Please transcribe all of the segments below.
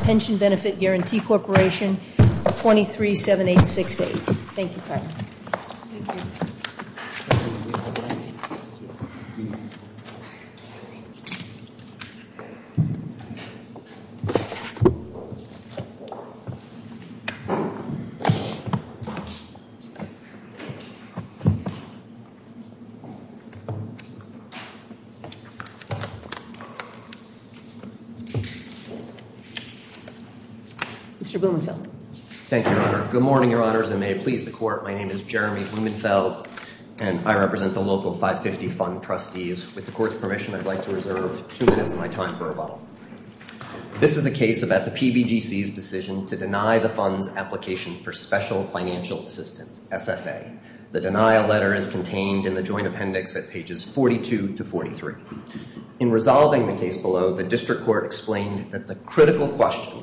Pension Benefit Guarantee Corporation 237868 Mr. Blumenfeld. Thank you, Your Honor. Good morning, Your Honors, and may it please the Court. My name is Jeremy Blumenfeld, and I represent the Local 550 Fund Trustees. With the Court's permission, I'd like to reserve two minutes of my time for rebuttal. This is a case about the PBGC's decision to deny the fund's application for special financial assistance, SFA. The denial letter is contained in the joint appendix at pages 42 to 43. In resolving the case below, the District Court explained that the critical question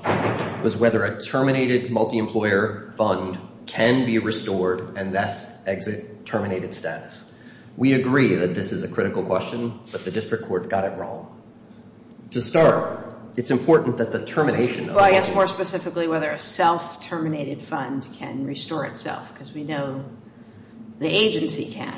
was whether a terminated multi-employer fund can be restored and thus exit terminated status. We agree that this is a critical question, but the District Court got it wrong. To start, it's important that the termination of the fund... Well, I guess more specifically whether a self-terminated fund can restore itself, because we know the agency can,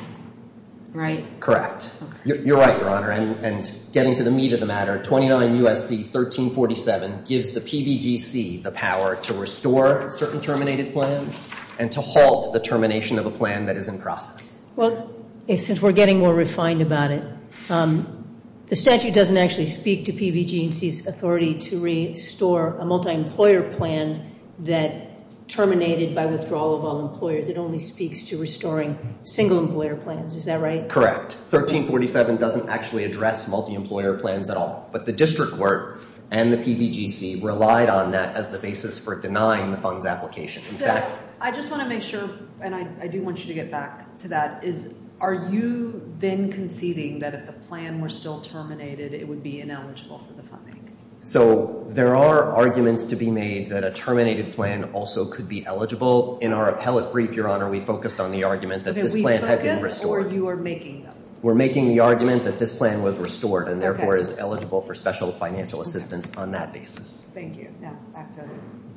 right? Correct. You're right, Your Honor, and getting to the meat of the matter, 29 U.S.C. 1347 gives the PBGC the power to restore certain terminated plans and to halt the termination of a plan that is in process. Well, since we're getting more refined about it, the statute doesn't actually speak to PBG&C's authority to restore a multi-employer plan that terminated by withdrawal of all employers. It only speaks to restoring single-employer plans. Is that right? Correct. 1347 doesn't actually address multi-employer plans at all, but the District Court and the PBG&C relied on that as the basis for denying the fund's application. In fact... So, I just want to make sure, and I do want you to get back to that, is are you then conceding that if the plan were still terminated, it would be ineligible for the funding? So, there are arguments to be made that a terminated plan also could be eligible. In our appellate brief, Your Honor, we focused on the argument that this plan had been restored. We're making the argument that this plan was restored and therefore is eligible for special financial assistance on that basis. Thank you. Now, back to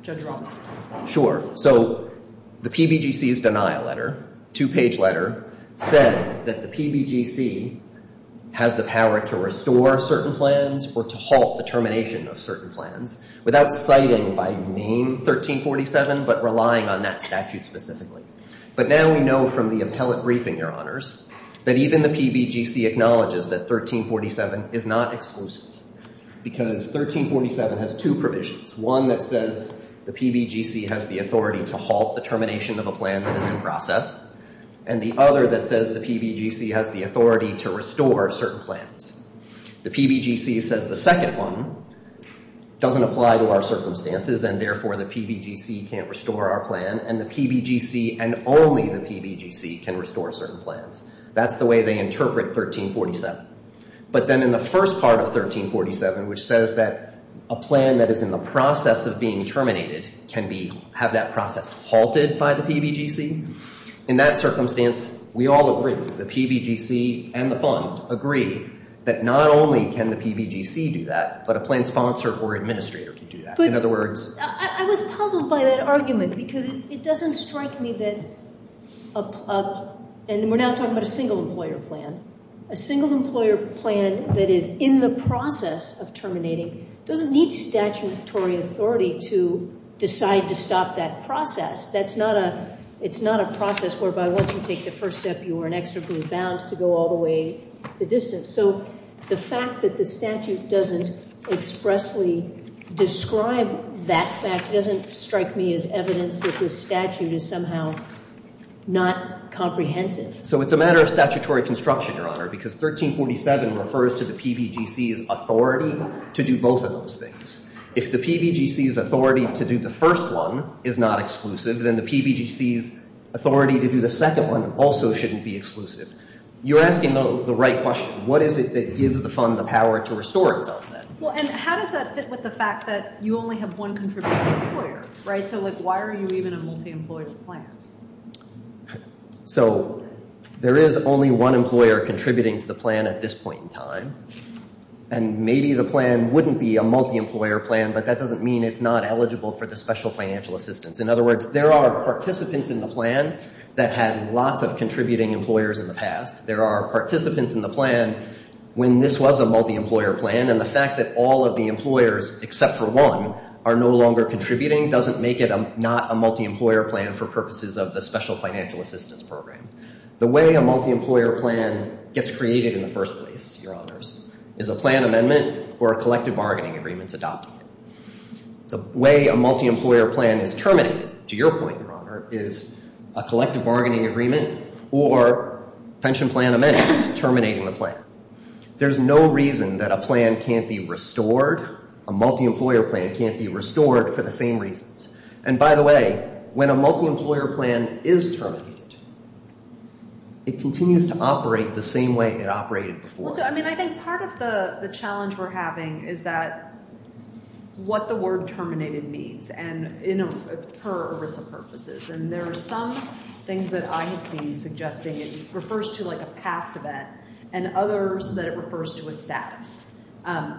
Judge Roth. Sure. So, the PBG&C's denial letter, two-page letter, said that the PBG&C has the power to restore certain plans or to halt the termination of certain plans without citing, by name, 1347, but relying on that statute specifically. But now we know from the appellate briefing, Your Honors, that even the PBG&C acknowledges that 1347 is not exclusive because 1347 has two provisions. One that says the PBG&C has the authority to halt the termination of a plan that is in process, and the other that says the PBG&C has the authority to restore certain plans. The PBG&C says the second one doesn't apply to our circumstances, and therefore the PBG&C can't restore our plan, and the PBG&C and only the PBG&C can restore certain plans. That's the way they interpret 1347. But then in the first part of 1347, which says that a plan that is in the process of being terminated can have that process halted by the PBG&C, in that circumstance, we all agree, the PBG&C and the fund agree, that not only can the PBG&C do that, but a plan sponsor or administrator can do that. But I was puzzled by that argument because it doesn't strike me that, and we're now talking about a single employer plan, a single employer plan that is in the process of terminating doesn't need statutory authority to decide to stop that process. That's not a, it's not a process whereby once you take the first step, you are inexorably bound to go all the way the distance. So the fact that the statute doesn't expressly describe that fact doesn't strike me as evidence that this statute is somehow not comprehensive. So it's a matter of statutory construction, Your Honor, because 1347 refers to the PBG&C's authority to do both of those things. If the PBG&C's authority to do the first one is not exclusive, then the PBG&C's authority to do the second one also shouldn't be exclusive. You're asking the right question. What is it that gives the fund the power to restore itself then? Well, and how does that fit with the fact that you only have one contributor employer, right? So like why are you even a multi-employer plan? So there is only one employer contributing to the plan at this point in time, and maybe the plan wouldn't be a multi-employer plan, but that doesn't mean it's not eligible for the special financial assistance. In other words, there are participants in the plan that had lots of contributing employers in the past. There are participants in the plan when this was a multi-employer plan, and the fact that all of the employers except for one are no longer contributing doesn't make it not a multi-employer plan for purposes of the special financial assistance program. The way a multi-employer plan gets created in the first place, Your Honors, is a plan amendment or a collective bargaining agreement adopting it. The way a multi-employer plan is terminated, to your point, Your Honor, is a collective bargaining agreement or pension plan amendments terminating the plan. There's no reason that a plan can't be restored. A multi-employer plan can't be restored for the same reasons. And by the way, when a multi-employer plan is terminated, it continues to operate the same way it operated before. Also, I mean, I think part of the challenge we're having is that what the word terminated means, and, you know, per ERISA purposes. And there are some things that I have seen suggesting it refers to, like, a past event, and others that it refers to a status.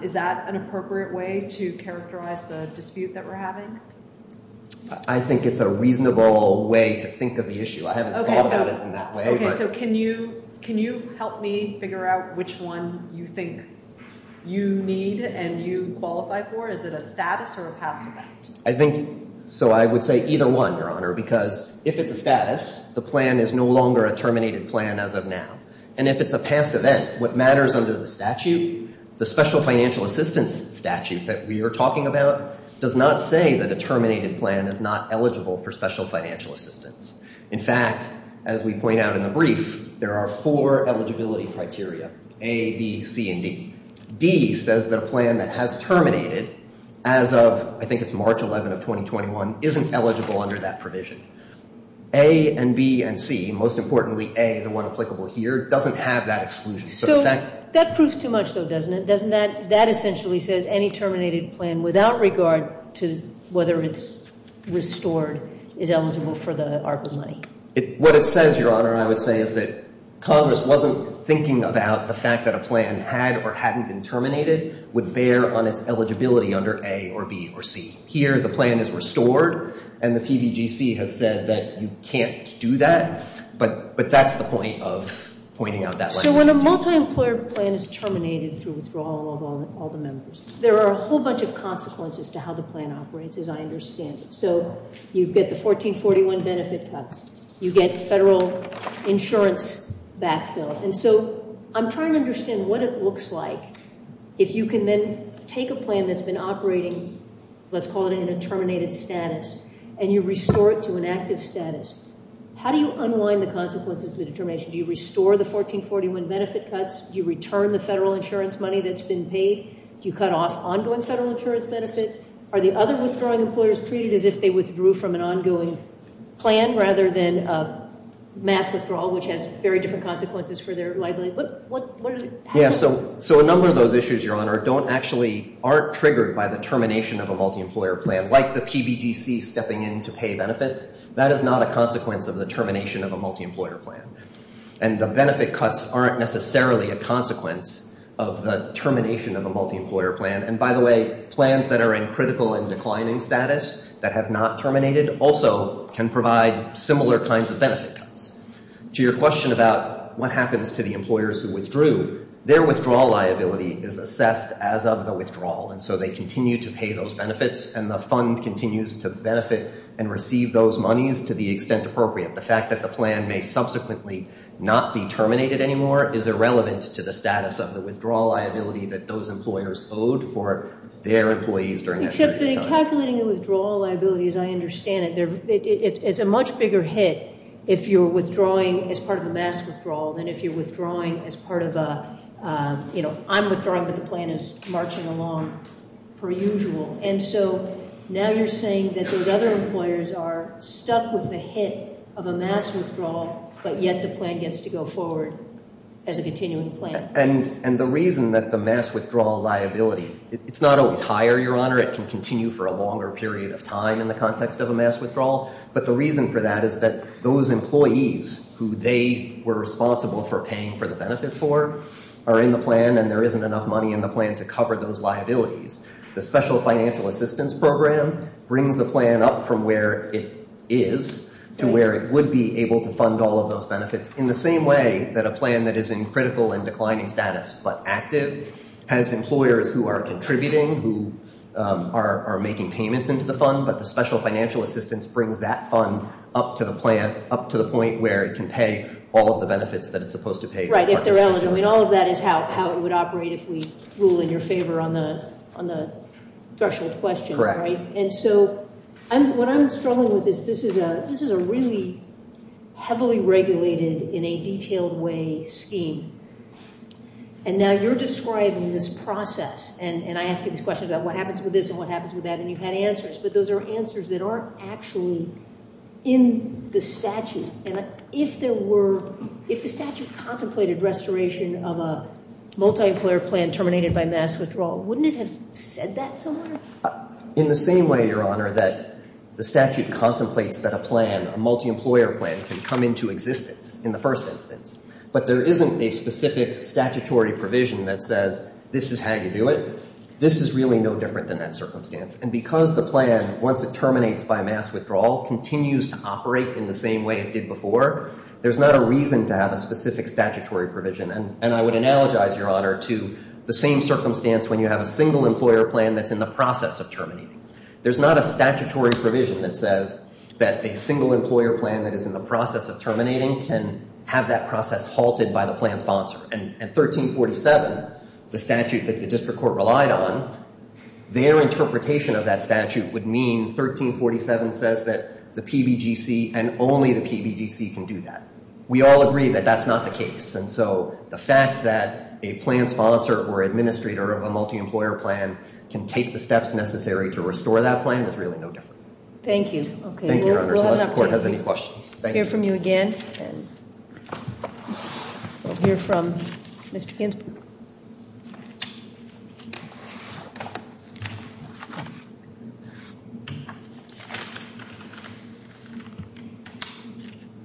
Is that an appropriate way to characterize the dispute that we're having? I think it's a reasonable way to think of the issue. I haven't thought about it in that way. Okay, so can you help me figure out which one you think you need and you qualify for? Is it a status or a past event? I think, so I would say either one, Your Honor, because if it's a status, the plan is no longer a terminated plan as of now. And if it's a past event, what matters under the statute, the special financial assistance statute that we are talking about, does not say that a terminated plan is not eligible for special financial assistance. In fact, as we point out in the brief, there are four eligibility criteria, A, B, C, and D. D says that a plan that has terminated as of, I think it's March 11 of 2021, isn't eligible under that provision. A and B and C, most importantly, A, the one applicable here, doesn't have that exclusion. That proves too much, though, doesn't it? That essentially says any terminated plan, without regard to whether it's restored, is eligible for the ARPA money. What it says, Your Honor, I would say is that Congress wasn't thinking about the fact that a plan had or hadn't been terminated would bear on its eligibility under A or B or C. Here, the plan is restored and the PBGC has said that you can't do that, but that's the point of pointing out that legislation. So when a multi-employer plan is terminated through withdrawal of all the members, there are a whole bunch of consequences to how the plan operates, as I understand it. So you get the 1441 benefit cuts. You get federal insurance backfilled. And so I'm trying to understand what it looks like if you can then take a plan that's been operating, let's call it in a terminated status, and you restore it to an active status. How do you unwind the consequences of the determination? Do you restore the 1441 benefit cuts? Do you return the federal insurance money that's been paid? Do you cut off ongoing federal insurance benefits? Are the other withdrawing employers treated as if they withdrew from an ongoing plan rather than a mass withdrawal, which has very different consequences for their liability? What are the consequences? Yeah, so a number of those issues, Your Honor, don't actually, aren't triggered by the termination of a multi-employer plan, like the PBGC stepping in to pay benefits. That is not a consequence of the termination of a multi-employer plan. And the benefit cuts aren't necessarily a consequence of the termination of a multi-employer plan. And by the way, plans that are in critical and declining status that have not terminated also can provide similar kinds of benefit cuts. To your question about what happens to the employers who withdrew, their withdrawal liability is assessed as of the withdrawal. And so they continue to pay those benefits, and the fund continues to benefit and receive those monies to the extent appropriate. The fact that the plan may subsequently not be terminated anymore is irrelevant to the status of the withdrawal liability that those employers owed for their employees during that period of time. Except that in calculating the withdrawal liability, as I understand it, it's a much bigger hit if you're withdrawing as part of a mass withdrawal than if you're withdrawing as part of a, you know, I'm withdrawing, but the plan is marching along per usual. And so now you're saying that those other employers are stuck with the hit of a mass withdrawal, but yet the plan gets to go forward as a continuing plan. And the reason that the mass withdrawal liability, it's not always higher, Your Honor. It can continue for a longer period of time in the context of a mass withdrawal. But the reason for that is that those employees who they were responsible for paying for the benefits for are in the plan, and there isn't enough money in the plan to cover those liabilities. The Special Financial Assistance Program brings the plan up from where it is to where it would be able to fund all of those benefits. In the same way that a plan that is in critical and declining status but active has employers who are contributing, who are making payments into the fund, but the Special Financial Assistance brings that fund up to the plan, up to the point where it can pay all of the benefits that it's supposed to pay. Right, if they're eligible. I mean, all of that is how it would operate if we rule in your favor on the threshold question, right? And so what I'm struggling with is this is a really heavily regulated, in a detailed way, scheme. And now you're describing this process, and I ask you these questions about what happens with this and what happens with that, and you've had answers, but those are answers that aren't actually in the statute. And if there were, if the statute contemplated restoration of a multi-employer plan terminated by mass withdrawal, wouldn't it have said that somewhere? In the same way, Your Honor, that the statute contemplates that a plan, a multi-employer plan, can come into existence in the first instance. But there isn't a specific statutory provision that says this is how you do it. This is really no different than that circumstance. And because the plan, once it terminates by mass withdrawal, continues to operate in the same way it did before, there's not a reason to have a specific statutory provision. And I would analogize, Your Honor, to the same circumstance when you have a single employer plan that's in the process of terminating. The plan can have that process halted by the plan sponsor. And 1347, the statute that the district court relied on, their interpretation of that statute would mean 1347 says that the PBGC and only the PBGC can do that. We all agree that that's not the case. And so the fact that a plan sponsor or administrator of a multi-employer plan can take the steps necessary to restore that plan is really no different. Thank you. Thank you, Your Honor, unless the court has any questions. We'll hear from you again. We'll hear from Mr. Ginsburg.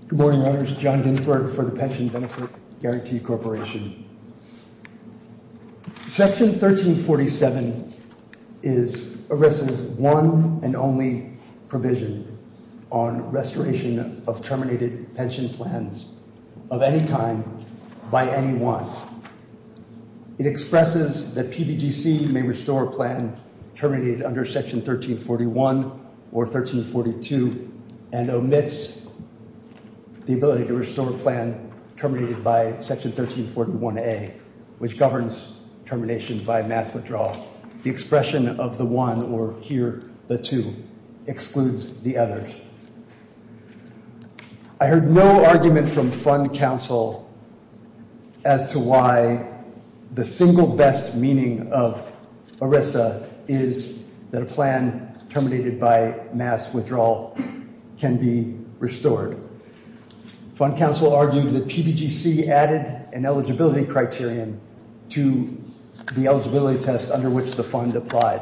Good morning, Your Honors. John Ginsburg for the Pension Benefit Guarantee Corporation. Section 1347 is one and only provision on restoration of terminated pension plans of any kind by anyone. It expresses that PBGC may restore a plan terminated under Section 1341 or 1342 and omits the ability to restore a plan terminated by Section 1341A, which governs termination by mass withdrawal. The expression of the one or here the two excludes the others. I heard no argument from Fund Council as to why the single best meaning of ERISA is that a plan terminated by mass withdrawal can be restored. Fund Council argued that PBGC added an eligibility criterion to the eligibility test under which the fund applied,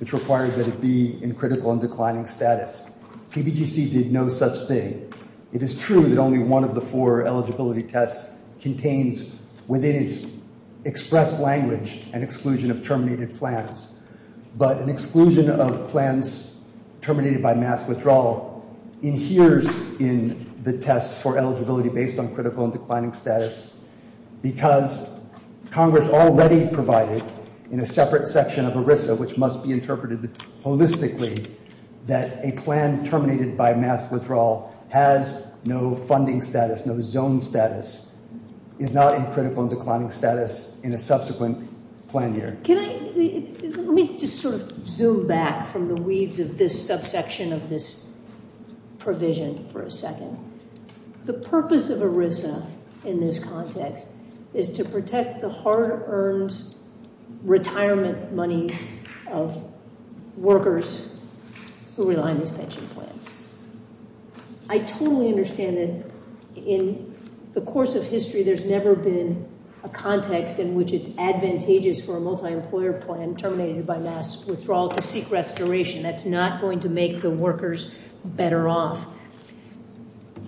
which required that it be in critical and declining status. PBGC did no such thing. It is true that only one of the four eligibility tests contains within its express language an exclusion of terminated plans. But an exclusion of plans terminated by mass withdrawal inheres in the test for eligibility based on critical and declining status because Congress already provided in a separate section of ERISA, which must be interpreted holistically, that a plan terminated by mass withdrawal has no funding status, no zone status, is not in critical and declining status in a subsequent plan year. Let me just sort of zoom back from the weeds of this subsection of this provision for a second. The purpose of ERISA in this context is to protect the hard-earned retirement monies of workers who rely on these pension plans. I totally understand that in the course of history there's never been a context in which it's advantageous for a multi-employer plan terminated by mass withdrawal to seek restoration. That's not going to make the workers better off.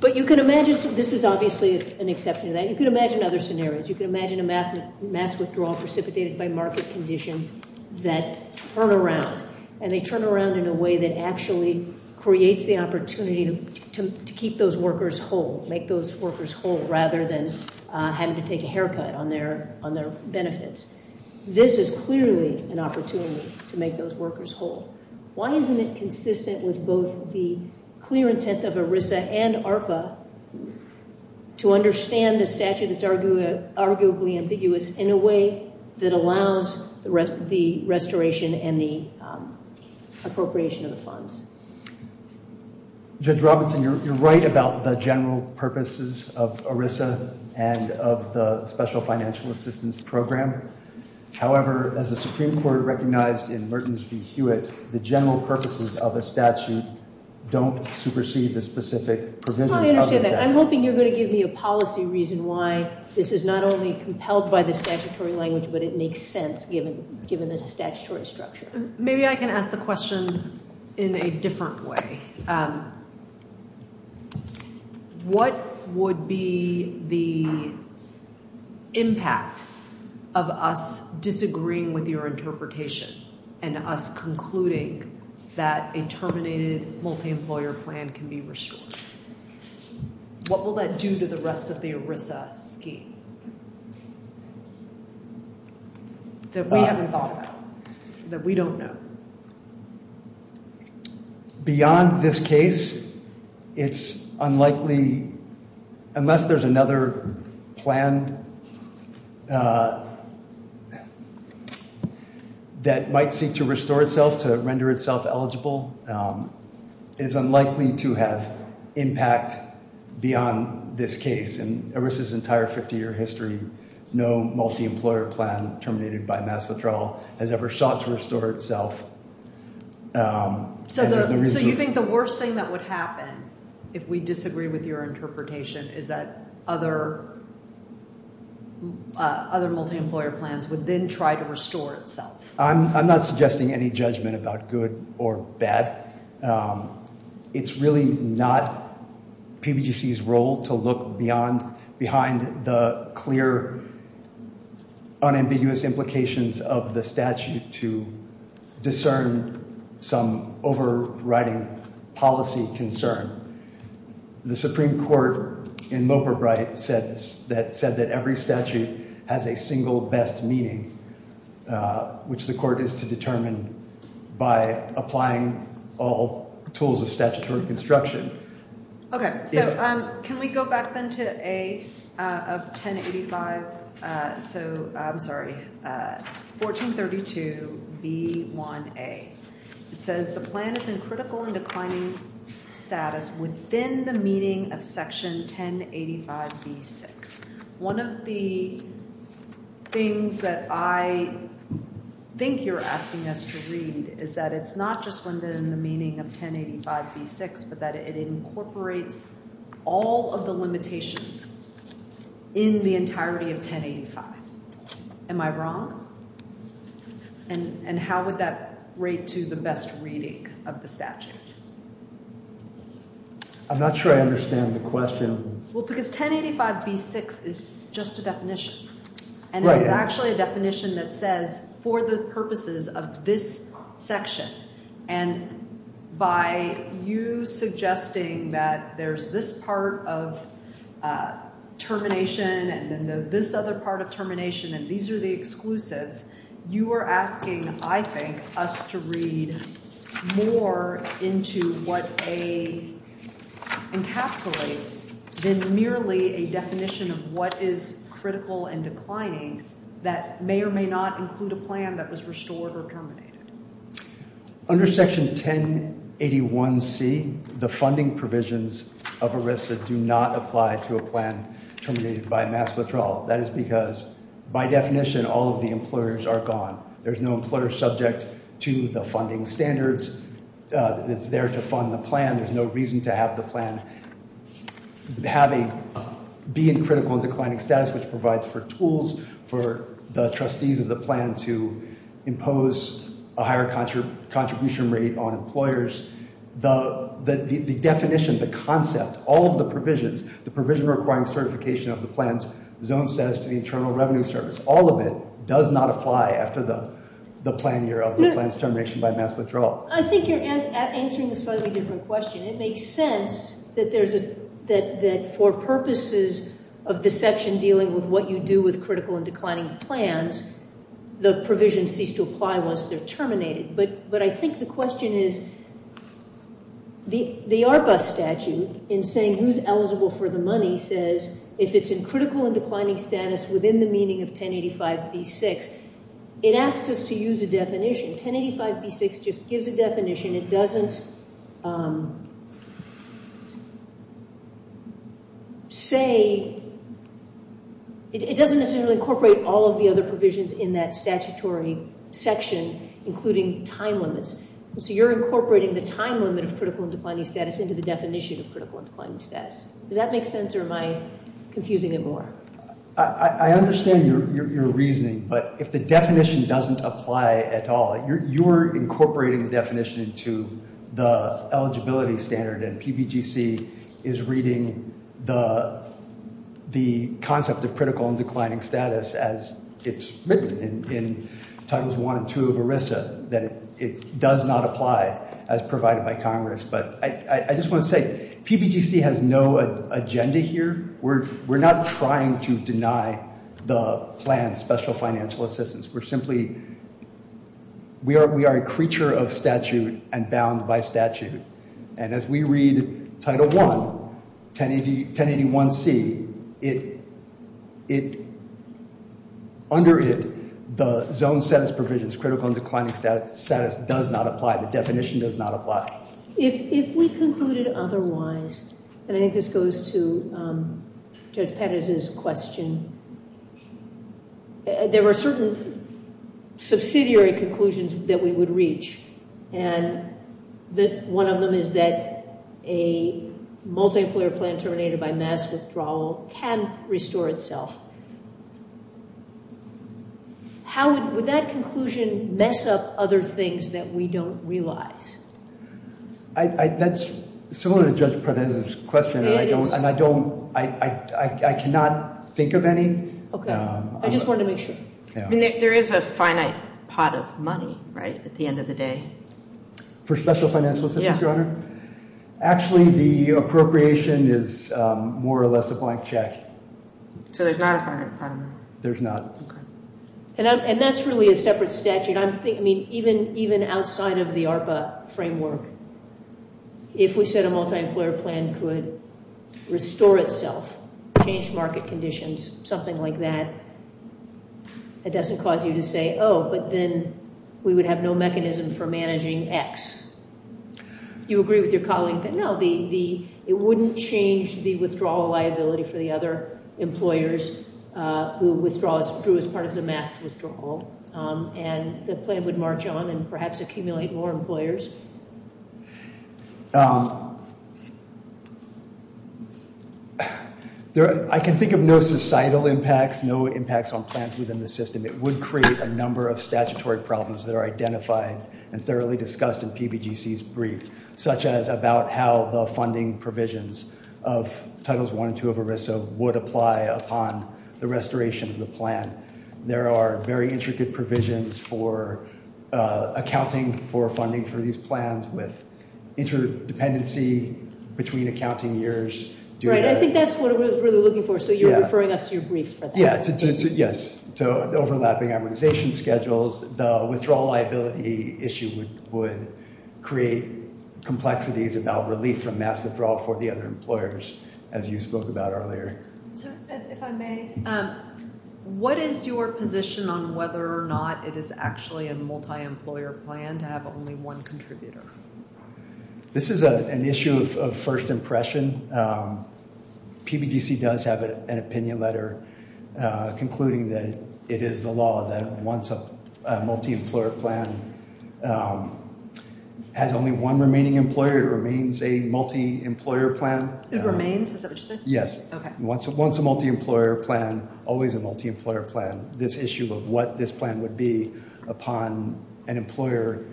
But you can imagine this is obviously an exception to that. You can imagine other scenarios. You can imagine a mass withdrawal precipitated by market conditions that turn around, and they turn around in a way that actually creates the opportunity to keep those workers whole, make those workers whole, rather than having to take a haircut on their benefits. This is clearly an opportunity to make those workers whole. Why isn't it consistent with both the clear intent of ERISA and ARPA to understand the statute that's arguably ambiguous in a way that allows the restoration and the appropriation of the funds? Judge Robinson, you're right about the general purposes of ERISA and of the Special Financial Assistance Program. However, as the Supreme Court recognized in Merton v. Hewitt, the general purposes of a statute don't supersede the specific provisions of the statute. I understand that. I'm hoping you're going to give me a policy reason why this is not only compelled by the statutory language, but it makes sense given the statutory structure. Maybe I can ask the question in a different way. What would be the impact of us disagreeing with your interpretation and us concluding that a terminated multi-employer plan can be restored? What will that do to the rest of the ERISA scheme that we haven't thought about, that we don't know? Beyond this case, it's unlikely, unless there's another plan that might seek to restore itself, to render itself eligible, it's unlikely to have impact beyond this case. In ERISA's entire 50-year history, no multi-employer plan terminated by mass withdrawal has ever sought to restore itself. So you think the worst thing that would happen if we disagree with your interpretation is that other multi-employer plans would then try to restore itself? I'm not suggesting any judgment about good or bad. It's really not PBGC's role to look behind the clear, unambiguous implications of the statute to discern some overriding policy concern. The Supreme Court in Loperbright said that every statute has a single best meaning, which the court is to determine by applying all tools of statutory construction. Okay, so can we go back then to A of 1085? So, I'm sorry, 1432B1A. It says the plan is in critical and declining status within the meaning of Section 1085B6. One of the things that I think you're asking us to read is that it's not just within the meaning of 1085B6, but that it incorporates all of the limitations in the entirety of 1085. Am I wrong? And how would that rate to the best reading of the statute? I'm not sure I understand the question. Well, because 1085B6 is just a definition. And it's actually a definition that says for the purposes of this section. And by you suggesting that there's this part of termination and then this other part of termination and these are the exclusives, you are asking, I think, us to read more into what A encapsulates than merely a definition of what is critical and declining that may or may not include a plan that was restored or terminated. Under Section 1081C, the funding provisions of ERISA do not apply to a plan terminated by mass withdrawal. That is because, by definition, all of the employers are gone. There's no employer subject to the funding standards. It's there to fund the plan. There's no reason to have the plan be in critical and declining status, which provides for tools for the trustees of the plan to impose a higher contribution rate on employers. The definition, the concept, all of the provisions, the provision requiring certification of the plan's zone status to the Internal Revenue Service, all of it does not apply after the plan year of the plan's termination by mass withdrawal. I think you're answering a slightly different question. It makes sense that for purposes of this section dealing with what you do with critical and declining plans, the provisions cease to apply once they're terminated. But I think the question is the ARPA statute in saying who's eligible for the money says if it's in critical and declining status within the meaning of 1085B6, it asks us to use a definition. 1085B6 just gives a definition. It doesn't, say, it doesn't necessarily incorporate all of the other provisions in that statutory section, including time limits. So you're incorporating the time limit of critical and declining status into the definition of critical and declining status. Does that make sense, or am I confusing it more? I understand your reasoning, but if the definition doesn't apply at all, you're incorporating the definition into the eligibility standard. And PBGC is reading the concept of critical and declining status as it's written in Titles I and II of ERISA, that it does not apply as provided by Congress. But I just want to say PBGC has no agenda here. We're not trying to deny the plan special financial assistance. We're simply, we are a creature of statute and bound by statute. And as we read Title I, 1081C, under it, the zone status provisions, critical and declining status, does not apply. The definition does not apply. If we concluded otherwise, and I think this goes to Judge Perez's question, there were certain subsidiary conclusions that we would reach. And one of them is that a multi-employer plan terminated by mass withdrawal can restore itself. Would that conclusion mess up other things that we don't realize? That's similar to Judge Perez's question, and I cannot think of any. Okay. I just wanted to make sure. There is a finite pot of money, right, at the end of the day. For special financial assistance, Your Honor? Yeah. Actually, the appropriation is more or less a blank check. So there's not a finite pot of money? There's not. Okay. And that's really a separate statute. I mean, even outside of the ARPA framework, if we said a multi-employer plan could restore itself, change market conditions, something like that, it doesn't cause you to say, oh, but then we would have no mechanism for managing X. You agree with your colleague that, no, it wouldn't change the withdrawal liability for the other employers who withdrew as part of the mass withdrawal, and the plan would march on and perhaps accumulate more employers? I can think of no societal impacts, no impacts on plans within the system. It would create a number of statutory problems that are identified and thoroughly discussed in PBGC's brief, such as about how the funding provisions of Titles I and II of ERISA would apply upon the restoration of the plan. There are very intricate provisions for accounting for funding for these plans with interdependency between accounting years. Right. I think that's what we're really looking for. So you're referring us to your brief for that? Yes, to overlapping amortization schedules. The withdrawal liability issue would create complexities about relief from mass withdrawal for the other employers, as you spoke about earlier. If I may, what is your position on whether or not it is actually a multi-employer plan to have only one contributor? This is an issue of first impression. PBGC does have an opinion letter concluding that it is the law that once a multi-employer plan has only one remaining employer, it remains a multi-employer plan. It remains? Is that what you said? Yes. Okay. Once a multi-employer plan, always a multi-employer plan. This issue of what this plan would be upon an employer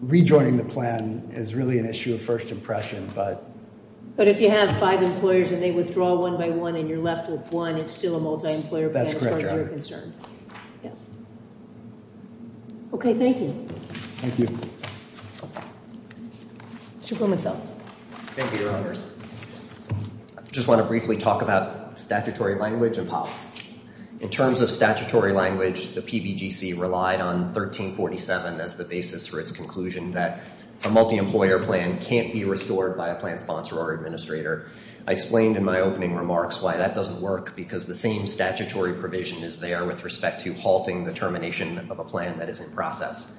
rejoining the plan is really an issue of first impression. But if you have five employers and they withdraw one by one and you're left with one, it's still a multi-employer plan as far as you're concerned. Okay, thank you. Thank you. Mr. Blumenthal. Thank you, Your Honors. I just want to briefly talk about statutory language and policy. In terms of statutory language, the PBGC relied on 1347 as the basis for its conclusion that a multi-employer plan can't be restored by a plan sponsor or administrator. I explained in my opening remarks why that doesn't work because the same statutory provision is there with respect to halting the termination of a plan that is in process.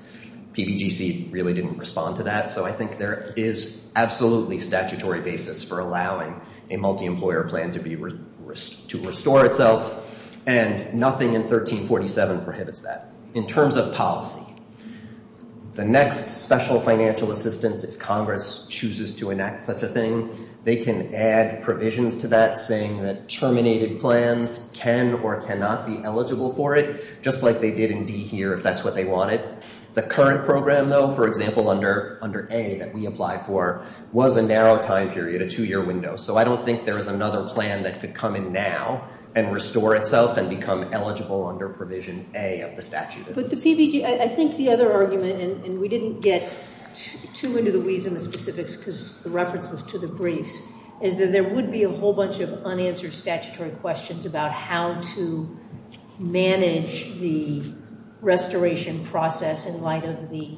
PBGC really didn't respond to that, so I think there is absolutely statutory basis for allowing a multi-employer plan to restore itself, and nothing in 1347 prohibits that. In terms of policy, the next special financial assistance if Congress chooses to enact such a thing, they can add provisions to that saying that terminated plans can or cannot be eligible for it, just like they did in D here if that's what they wanted. The current program, though, for example, under A that we applied for, was a narrow time period, a two-year window, so I don't think there is another plan that could come in now and restore itself and become eligible under provision A of the statute. But the PBG, I think the other argument, and we didn't get too into the weeds in the specifics because the reference was to the briefs, is that there would be a whole bunch of unanswered statutory questions about how to manage the restoration process in light of the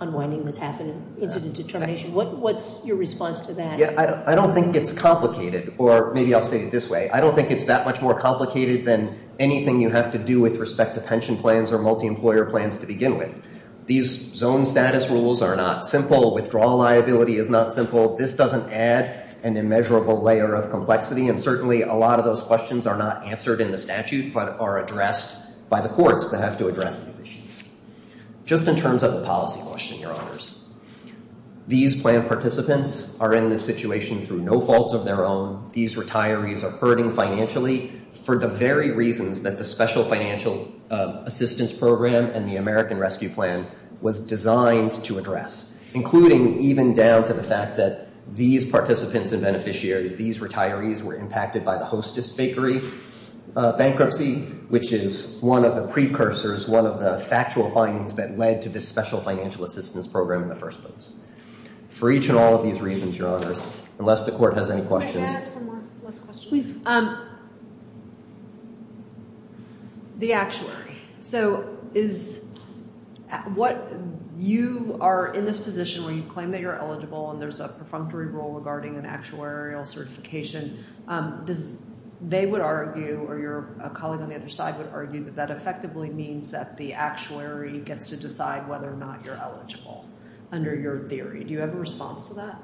unwinding that's happened, incident to termination. What's your response to that? Yeah, I don't think it's complicated, or maybe I'll say it this way. I don't think it's that much more complicated than anything you have to do with respect to pension plans or multi-employer plans to begin with. These zone status rules are not simple. Withdrawal liability is not simple. This doesn't add an immeasurable layer of complexity, and certainly a lot of those questions are not answered in the statute but are addressed by the courts that have to address these issues. Just in terms of the policy question, Your Honors, these plan participants are in this situation through no fault of their own. These retirees are hurting financially for the very reasons that the Special Financial Assistance Program and the American Rescue Plan was designed to address, including even down to the fact that these participants and beneficiaries, these retirees, were impacted by the Hostess Bakery bankruptcy, which is one of the precursors, one of the factual findings that led to this Special Financial Assistance Program in the first place. For each and all of these reasons, Your Honors, unless the court has any questions… Can I ask one more question? Please. The actuary. So, you are in this position where you claim that you're eligible and there's a perfunctory rule regarding an actuarial certification. They would argue, or your colleague on the other side would argue, that that effectively means that the actuary gets to decide whether or not you're eligible under your theory. Do you have a response to that?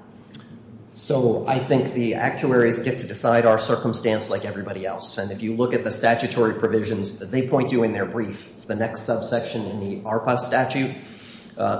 So, I think the actuaries get to decide our circumstance like everybody else. And if you look at the statutory provisions that they point to in their brief, it's the next subsection in the ARPA statute.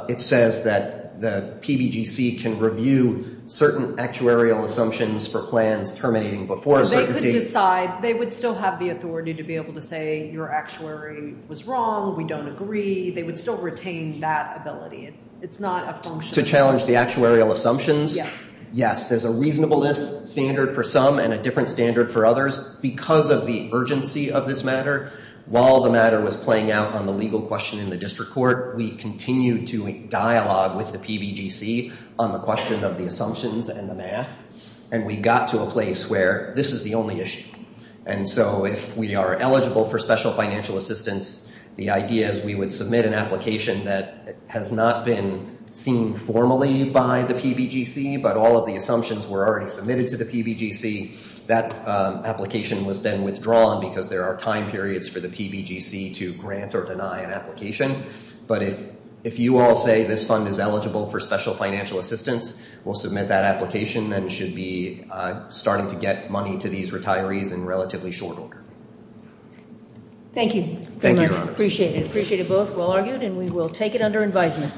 It says that the PBGC can review certain actuarial assumptions for plans terminating before a certain date. So, they could decide. They would still have the authority to be able to say your actuary was wrong, we don't agree. They would still retain that ability. It's not a function. To challenge the actuarial assumptions? Yes. Yes, there's a reasonableness standard for some and a different standard for others. Because of the urgency of this matter, while the matter was playing out on the legal question in the district court, we continued to dialogue with the PBGC on the question of the assumptions and the math. And we got to a place where this is the only issue. And so, if we are eligible for special financial assistance, the idea is we would submit an application that has not been seen formally by the PBGC, but all of the assumptions were already submitted to the PBGC. That application was then withdrawn because there are time periods for the PBGC to grant or deny an application. But if you all say this fund is eligible for special financial assistance, we'll submit that application and it should be starting to get money to these retirees in relatively short order. Thank you. Thank you, Your Honor. Appreciate it. Appreciate it both. Well argued. And we will take it under advisement.